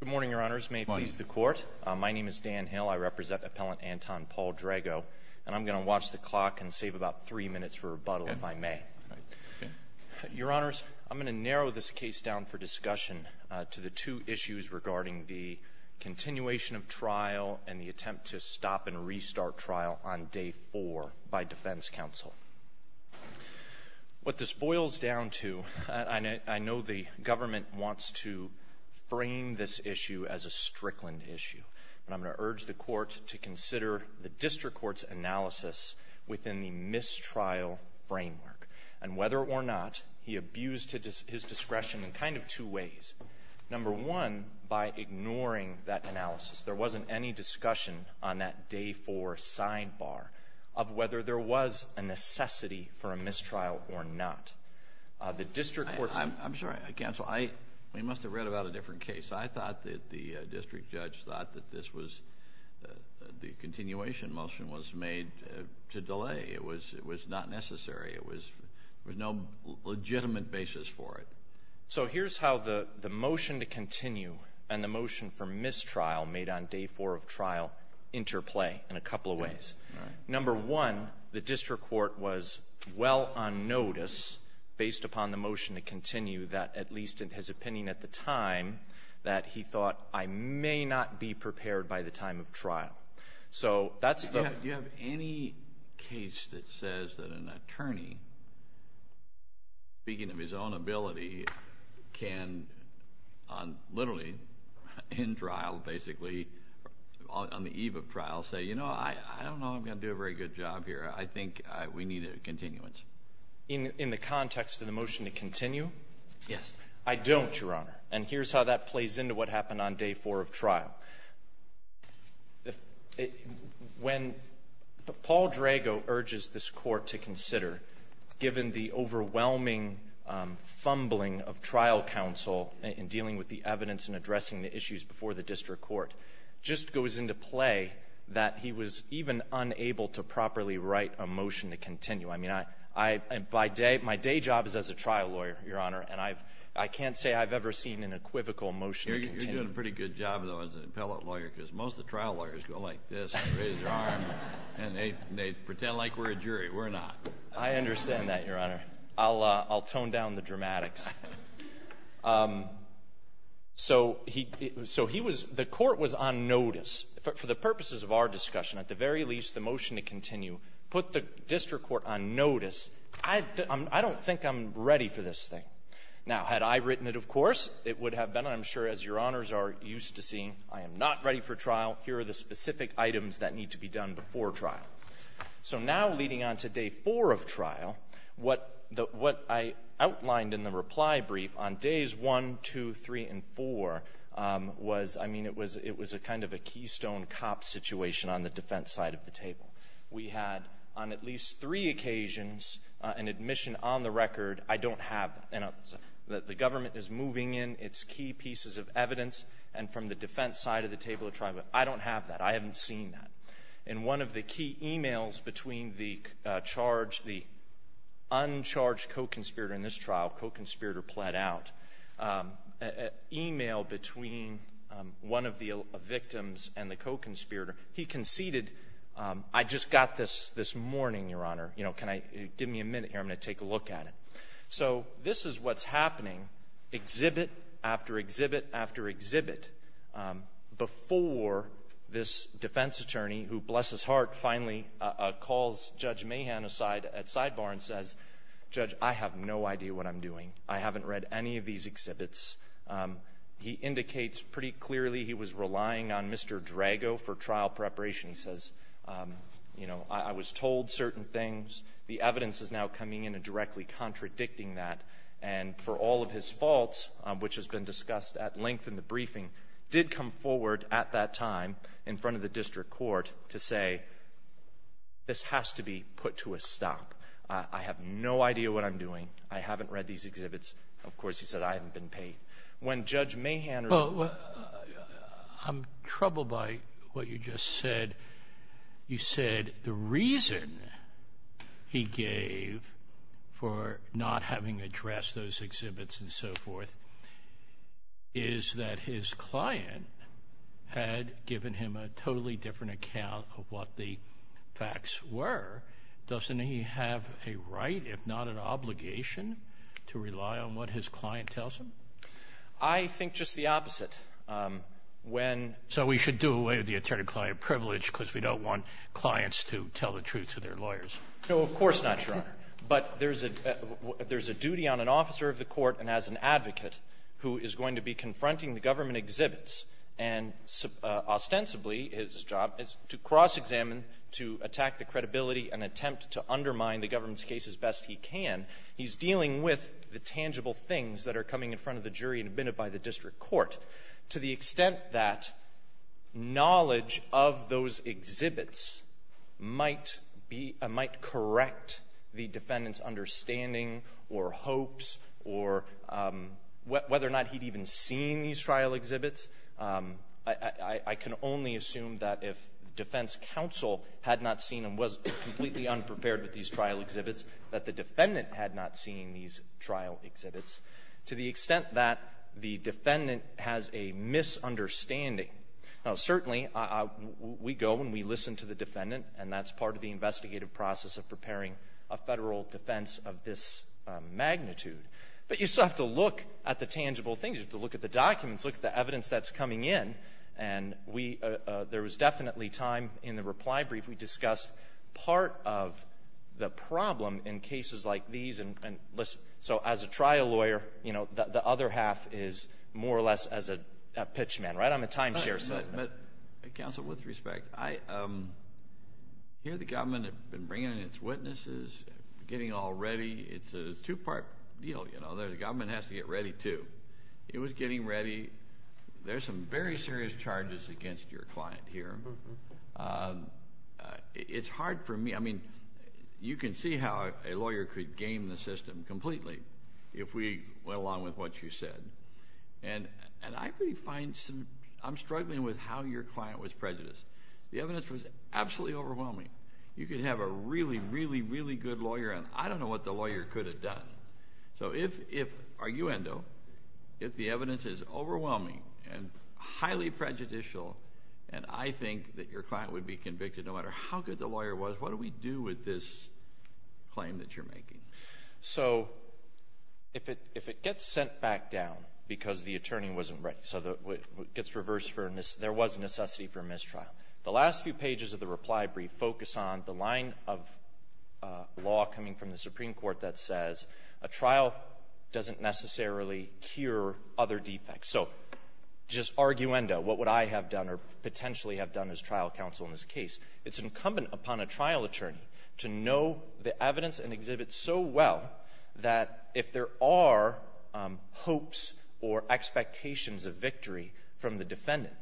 Good morning, Your Honors. May it please the Court. My name is Dan Hill. I represent Appellant Anton Paul Drago, and I'm going to watch the clock and save about three minutes for rebuttal if I may. Your Honors, I'm going to narrow this case down for discussion to the two issues regarding the continuation of trial and the attempt to stop and restart trial on day four by Defense counsel. What this boils down to, I know the government wants to frame this issue as a Strickland issue, and I'm going to urge the Court to consider the district court's analysis within the mistrial framework, and whether or not he abused his discretion in kind of two ways. Number one, by ignoring that analysis. There wasn't any discussion on that day four sidebar of whether there was a necessity for a mistrial or not. The district court's I'm sorry, counsel. I must have read about a different case. I thought that the district judge thought that this was the continuation motion was made to delay. It was not necessary. It was no legitimate basis for it. So here's how the motion to continue and the motion for mistrial made on day four of trial interplay in a couple of ways. Number one, the district court was well on notice based upon the motion to continue that at least in his opinion at the time that he thought I may not be prepared by the time of trial. So that's the Do you have any case that says that an attorney, speaking of his own ability, can on literally in trial, basically, on the eve of trial, say, you know, I don't know if I'm going to do a very good job here. I think we need a continuance. In the context of the motion to continue? Yes. I don't, Your Honor. And here's how that plays into what happened on day four of trial. When Paul Drago urges this Court to consider, given the overwhelming fumbling of trial counsel in dealing with the evidence and addressing the issues before the district court, just goes into play that he was even unable to properly write a motion to continue. I mean, my day job is as a trial lawyer, Your Honor, and I can't say I've ever seen an equivocal motion to continue. You're doing a pretty good job, though, as an appellate lawyer, because most of the trial lawyers go like this, raise their arm, and they pretend like we're a jury. We're not. I understand that, Your Honor. I'll tone down the dramatics. So he was — the Court was on notice. For the purposes of our discussion, at the very least, the motion to continue put the district court on notice. I don't think I'm ready for this thing. Now, had I written it, of course, it would have been, I'm sure, as Your Honors are used to seeing, I am not ready for trial. Here are the specific items that need to be done before trial. So now, leading on to Day 4 of trial, what I outlined in the reply brief on Days 1, 2, 3, and 4 was, I mean, it was a kind of a keystone cop situation on the defense side of the table. We had, on at least three occasions, an admission on the record, I don't have, and the government is moving in its key pieces of evidence, and from the defense side of the table, I don't have that. I haven't seen that. And one of the key e-mails between the charge — the uncharged co-conspirator in this trial, co-conspirator pled out, e-mail between one of the victims and the co-conspirator, he conceded, I just got this this morning, Your Honor. You know, can I — give me a minute here. I'm going to take a look at it. So this is what's happening, exhibit after exhibit after exhibit, before this defense attorney, who, bless his heart, finally calls Judge Mahan aside at sidebar and says, Judge, I have no idea what I'm doing. I haven't read any of these exhibits. He indicates pretty clearly he was relying on Mr. Drago for trial preparation. He says, you know, I was told certain things. The evidence is now coming in and directly contradicting that. And for all of his faults, which has been discussed at length in the briefing, did come forward at that time in front of the district court to say, this has to be put to a stop. I have no idea what I'm doing. I haven't read these exhibits. Of course, he said, I haven't been paid. When Judge Mahan — I'm troubled by what you just said. You said the reason he gave for not having addressed those exhibits and so forth is that his client had given him a totally different account of what the facts were. Doesn't he have a right, if not an obligation, to rely on what his client tells him? I think just the opposite. When — So we should do away with the attorney-client privilege because we don't want clients to tell the truth to their lawyers. No, of course not, Your Honor. But there's a — there's a duty on an officer of the court and as an advocate who is going to be confronting the government exhibits. And ostensibly, his job is to cross-examine, to attack the credibility and attempt to undermine the government's case as best he can. He's dealing with the tangible things that are coming in front of the jury and admitted by the district court. To the extent that knowledge of those exhibits might be — might correct the defendant's understanding or hopes or whether or not he'd even seen these trial exhibits, I can only assume that if defense counsel had not seen and was completely unprepared with these trial exhibits, that the defendant had not seen these trial exhibits. To the extent that the defendant has a misunderstanding. Now, certainly, I — we go and we listen to the defendant, and that's part of the investigative process of preparing a Federal defense of this magnitude. But you still have to look at the tangible things. You have to look at the documents, look at the evidence that's coming in. And we — there was definitely time in the reply brief we discussed part of the piece, and — so as a trial lawyer, you know, the other half is more or less as a pitchman, right? I'm a timeshare — But, counsel, with respect, I hear the government have been bringing in its witnesses, getting all ready. It's a two-part deal, you know. The government has to get ready, too. It was getting ready. There's some very serious charges against your client here. It's hard for me — I mean, you can see how a lawyer could game the system completely if we went along with what you said. And I really find some — I'm struggling with how your client was prejudiced. The evidence was absolutely overwhelming. You could have a really, really, really good lawyer, and I don't know what the lawyer could have done. So if — arguendo — if the evidence is overwhelming and highly prejudicial, and I think that your client would be convicted no matter how good the lawyer was, what do we do with this claim that you're making? So if it gets sent back down because the attorney wasn't ready, so it gets reversed for a — there was a necessity for a mistrial, the last few pages of the reply brief focus on the line of law coming from the Supreme Court that says a trial doesn't necessarily cure other defects. So just arguendo, what would I have done or potentially have done as trial counsel in this case? It's incumbent upon a trial attorney to know the evidence and exhibit so well that if there are hopes or expectations of victory from the defendant,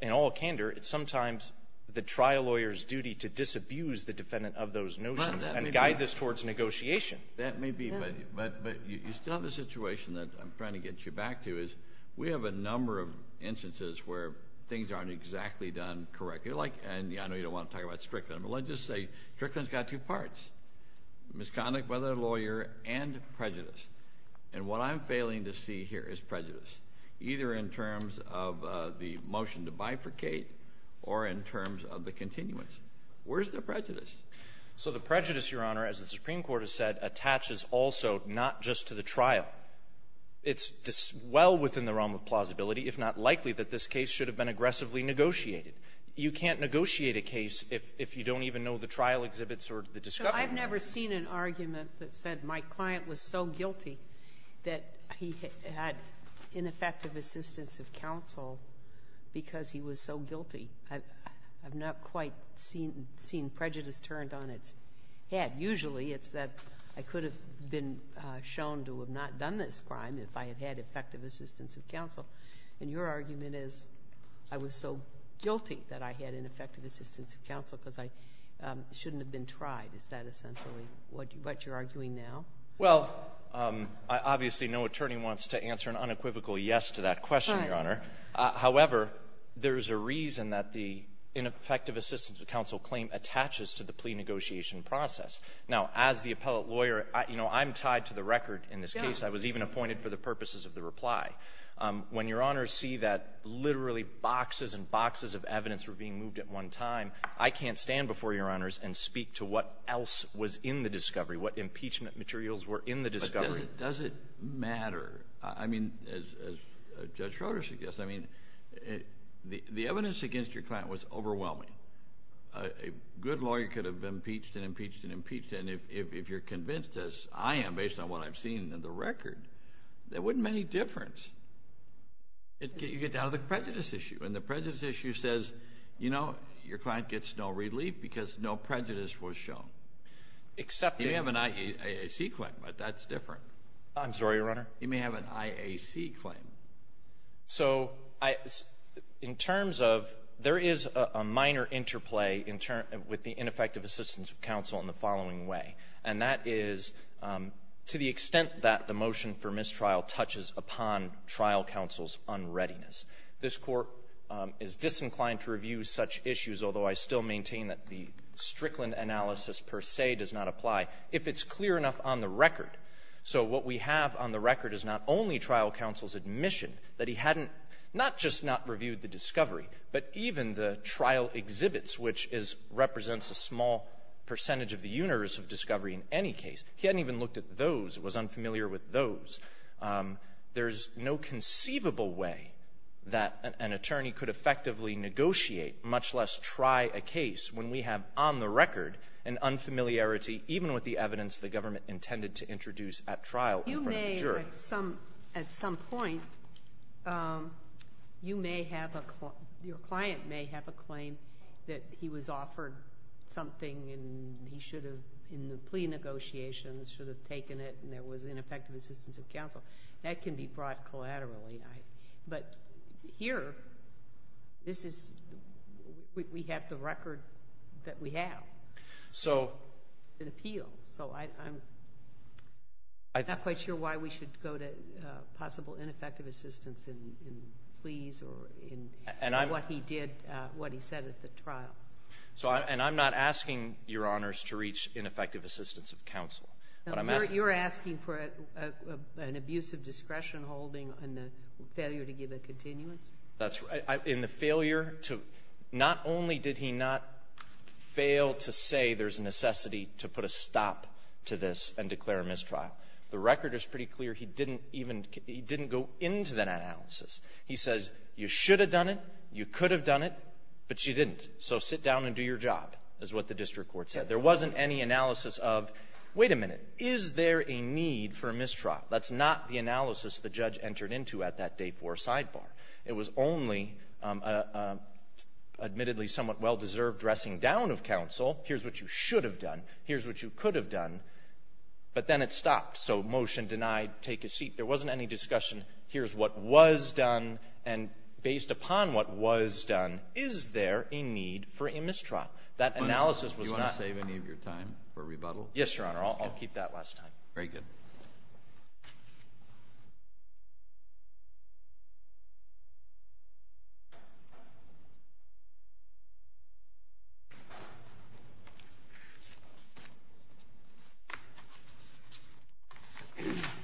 in all candor, it's sometimes the trial lawyer's duty to disabuse the defendant of those notions and guide this towards negotiation. That may be, but — but you still have a situation that I'm trying to get you back to, is we have a number of instances where things aren't exactly done correctly. Like — and I know you don't want to talk about Strickland, but let's just say Strickland's got two parts, misconduct by the lawyer and prejudice. And what I'm failing to see here is prejudice, either in terms of the motion to bifurcate or in terms of the continuance. Where's the prejudice? So the prejudice, Your Honor, as the Supreme Court has said, attaches also not just to the trial. It's just well within the realm of plausibility, if not likely, that this case should have been aggressively negotiated. You can't negotiate a case if you don't even know the trial exhibits or the discovery. So I've never seen an argument that said, my client was so guilty that he had ineffective assistance of counsel because he was so guilty. I've not quite seen prejudice turned on its head. Usually, it's that I could have been shown to have not done this crime if I had had effective assistance of counsel. And your argument is, I was so guilty that I had ineffective assistance of counsel because I shouldn't have been tried. Is that essentially what you're arguing now? Well, obviously, no attorney wants to answer an unequivocal yes to that question, Your Honor. Right. However, there's a reason that the ineffective assistance of counsel claim attaches to the plea negotiation process. Now, as the appellate lawyer, you know, I'm tied to the record in this case. Yeah. I was even appointed for the purposes of the reply. When Your Honors see that literally boxes and boxes of evidence were being moved at one time, I can't stand before Your Honors and speak to what else was in the discovery, what impeachment materials were in the discovery. But does it matter? I mean, as Judge Schroeder suggests, I mean, the evidence against your client was overwhelming. A good lawyer could have impeached and impeached and impeached. And if you're convinced, as I am, based on what I've seen in the record, there wouldn't be any difference. You get down to the prejudice issue, and the prejudice issue says, you know, your client gets no relief because no prejudice was shown. Except you have an IAC claim, but that's different. I'm sorry, Your Honor. You may have an IAC claim. So I — in terms of — there is a minor interplay in terms — with the ineffective assistance of counsel in the following way, and that is, to the extent that the motion for mistrial touches upon trial counsel's unreadiness. This Court is disinclined to review such issues, although I still maintain that the Strickland analysis per se does not apply, if it's clear enough on the record. So what we have on the record is not only trial counsel's admission that he hadn't — not just not reviewed the discovery, but even the trial exhibits, which is — represents a small percentage of the universe of discovery in any case. He hadn't even looked at those, was unfamiliar with those. There's no conceivable way that an attorney could effectively negotiate, much less try a case, when we have on the record an unfamiliarity, even with the evidence the government intended to introduce at trial in front of the jury. You may, at some point, you may have a — your client may have a claim that he was offered something, and he should have, in the plea negotiations, should have taken it, and there was ineffective assistance of counsel. That can be brought collaterally. But here, this is — we have the record that we have. So — And appeal. So I'm not quite sure why we should go to possible ineffective assistance in pleas or in what he did, what he said at the trial. And I'm not asking Your Honors to reach ineffective assistance of counsel. But I'm asking — You're asking for an abuse of discretion holding and the failure to give a continuance? That's right. In the failure to — not only did he not fail to say there's a necessity to put a stop to this and declare a mistrial, the record is pretty clear he didn't even — he didn't go into that analysis. He says, you should have done it, you could have done it, but you didn't. So sit down and do your job, is what the district court said. There wasn't any analysis of, wait a minute, is there a need for a mistrial? That's not the analysis the judge entered into at that day 4 sidebar. It was only an admittedly somewhat well-deserved dressing down of counsel. Here's what you should have done. Here's what you could have done. But then it stopped. So motion denied. Take a seat. There wasn't any discussion. Here's what was done. And based upon what was done, is there a need for a mistrial? That analysis was not — Do you want to save any of your time for rebuttal? Yes, Your Honor. I'll keep that last time. Very good.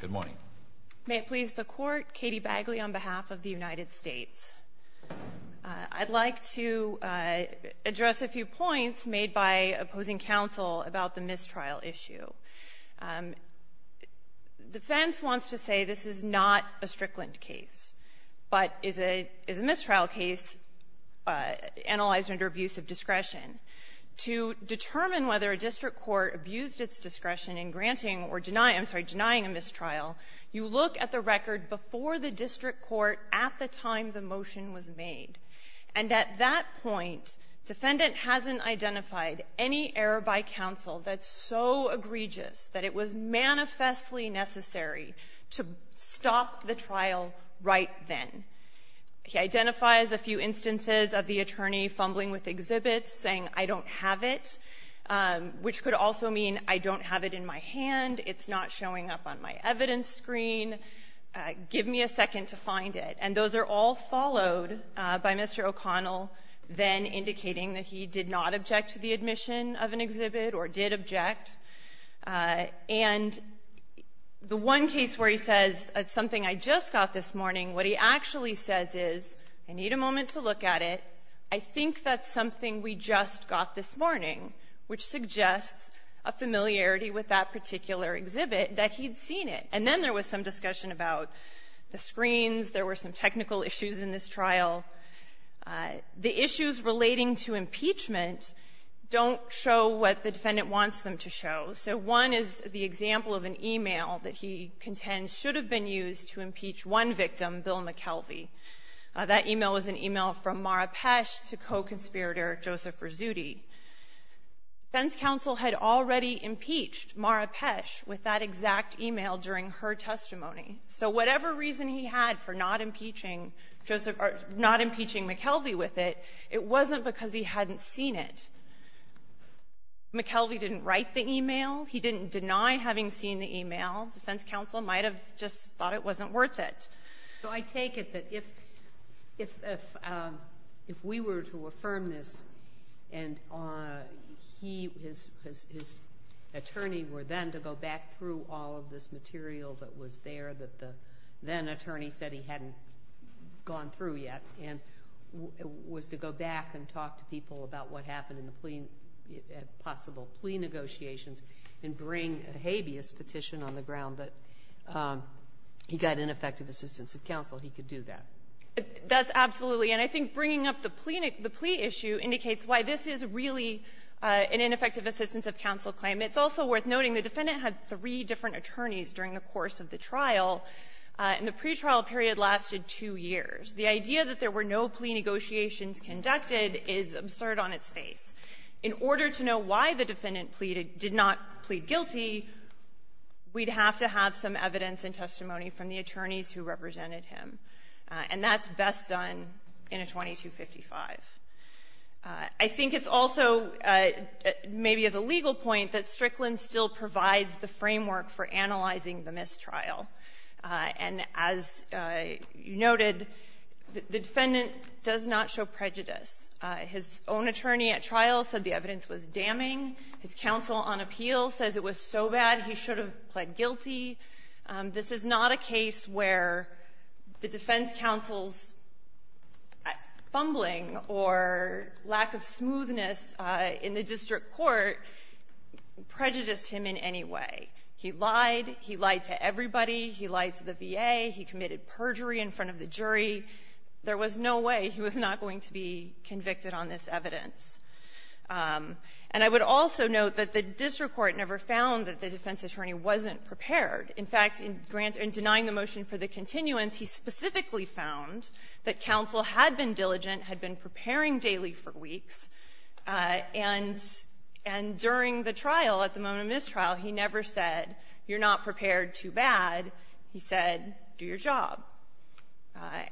Good morning. May it please the Court. Katie Bagley on behalf of the United States. I'd like to address a few points made by opposing counsel about the mistrial issue. Defense wants to say this is not a Strickland case, but is a — is a mistrial case analyzed under abuse of discretion. To determine whether a district court abused its discretion in granting or denying — I'm sorry, denying a mistrial, you look at the record before the district court at the time the motion was made. And at that point, defendant hasn't identified any error by counsel that's so egregious that it was manifestly necessary to stop the trial right then. He identifies a few instances of the attorney fumbling with exhibits, saying, I don't have it, which could also mean I don't have it in my hand, it's not showing up on my evidence screen, give me a second to find it. And those are all followed by Mr. O'Connell then indicating that he did not object to the admission of an exhibit or did object. And the one case where he says, it's something I just got this morning, what he actually says is, I need a moment to look at it, I think that's something we just got this morning, which suggests a familiarity with that particular exhibit, that he'd seen it. And then there was some discussion about the screens. There were some technical issues in this trial. The issues relating to impeachment don't show what the defendant wants them to show. So one is the example of an e-mail that he contends should have been used to impeach one victim, Bill McKelvey. That e-mail was an e-mail from Mara Pesce to co-conspirator Joseph Rizzutti. Defense counsel had already impeached Mara Pesce with that exact e-mail during her testimony. So whatever reason he had for not impeaching Joseph or not impeaching McKelvey with it, it wasn't because he hadn't seen it. McKelvey didn't write the e-mail. He didn't deny having seen the e-mail. Defense counsel might have just thought it wasn't worth it. Sotomayor, I take it that if we were to affirm this and he, his attorney were then to go back through all of this material that was there that the then-attorney said he hadn't gone through yet, and was to go back and talk to people about what happened in the plea, possible plea negotiations, and bring a habeas petition on the ground that he got ineffective assistance of counsel, he could do that. That's absolutely. And I think bringing up the plea issue indicates why this is really an ineffective assistance of counsel claim. It's also worth noting the defendant had three different attorneys during the course of the trial, and the pretrial period lasted two years. The idea that there were no plea negotiations conducted is absurd on its face. In order to know why the defendant pleaded did not plead guilty, we'd have to have some evidence and testimony from the attorneys who represented him. And that's best done in a 2255. I think it's also, maybe as a legal point, that Strickland still provides the framework for analyzing the mistrial. And as noted, the defendant does not show prejudice. His own attorney at trial said the evidence was damning. His counsel on appeal says it was so bad he should have pled guilty. This is not a case where the defense counsel's fumbling or lack of smoothness in the district court prejudiced him in any way. He lied. He lied to everybody. He lied to the VA. He committed perjury in front of the jury. There was no way he was not going to be convicted on this evidence. And I would also note that the district court never found that the defense attorney wasn't prepared. In fact, in denying the motion for the continuance, he specifically found that counsel had been diligent, had been preparing daily for weeks, and during the trial, at the moment of mistrial, he never said, you're not prepared too bad. He said, do your job.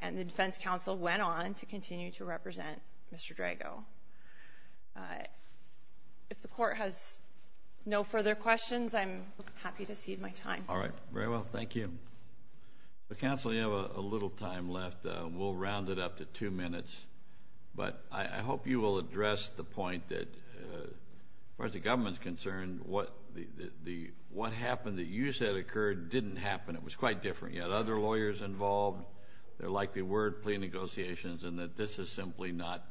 And the defense counsel went on to continue to represent Mr. Drago. If the court has no further questions, I'm happy to cede my time. All right. Very well. Thank you. Counsel, you have a little time left. We'll round it up to two minutes. But I hope you will address the point that, as far as the government is concerned, what happened that you said occurred didn't happen. It was quite different. You had other lawyers involved. There likely were plea negotiations, and that this is simply not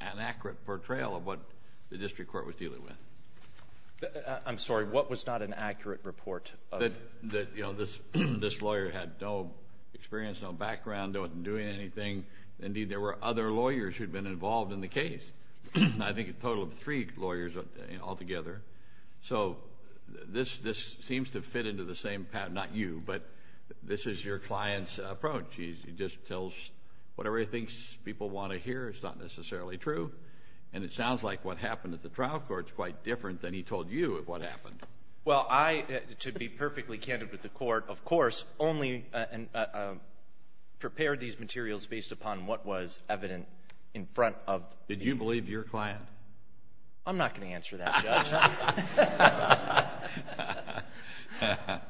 an accurate portrayal of what the district court was dealing with. I'm sorry. What was not an accurate report? You know, this lawyer had no experience, no background, wasn't doing anything. Indeed, there were other lawyers who had been involved in the case. I think a total of three lawyers altogether. So this seems to fit into the same pattern. Not you, but this is your client's approach. He just tells whatever he thinks people want to hear. It's not necessarily true. And it sounds like what happened at the trial court is quite different than he told you what happened. Well, I, to be perfectly candid with the court, of course, only prepared these materials based upon what was evident in front of the court. Did you believe your client? I'm not going to answer that, Judge.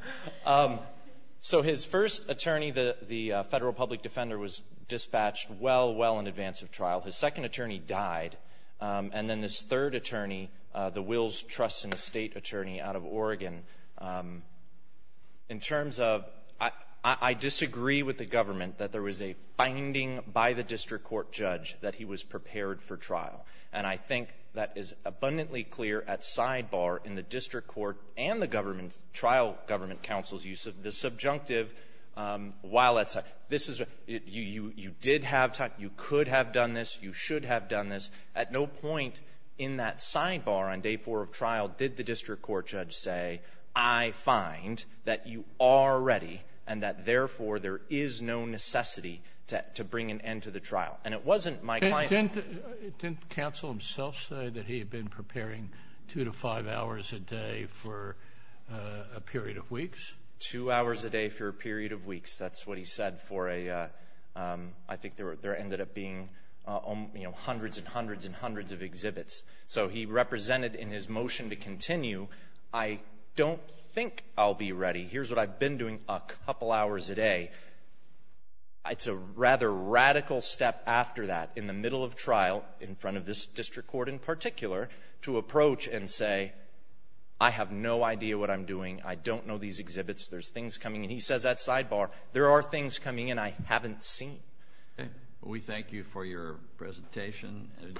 So his first attorney, the Federal Public Defender, was dispatched well, well in advance of trial. His second attorney died. And then this third attorney, the Wills Trust and Estate attorney out of Oregon, in terms of I disagree with the government that there was a finding by the district court judge that he was prepared for trial. And I think that is abundantly clear at sidebar in the district court and the government's trial government counsel's use of the subjunctive while at side. This is a you did have time. You could have done this. You should have done this. At no point in that sidebar on day four of trial did the district court judge say I find that you are ready and that, therefore, there is no necessity to bring an end to the trial. And it wasn't my client's. Didn't counsel himself say that he had been preparing two to five hours a day for a period of weeks? Two hours a day for a period of weeks. That's what he said for a I think there ended up being, you know, hundreds and hundreds and hundreds of exhibits. So he represented in his motion to continue, I don't think I'll be ready. Here's what I've been doing a couple hours a day. It's a rather radical step after that, in the middle of trial, in front of this district court in particular, to approach and say, I have no idea what I'm doing. I don't know these exhibits. There's things coming in. He says that sidebar. There are things coming in I haven't seen. We thank you for your presentation and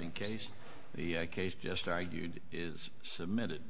in case the case just argued is submitted.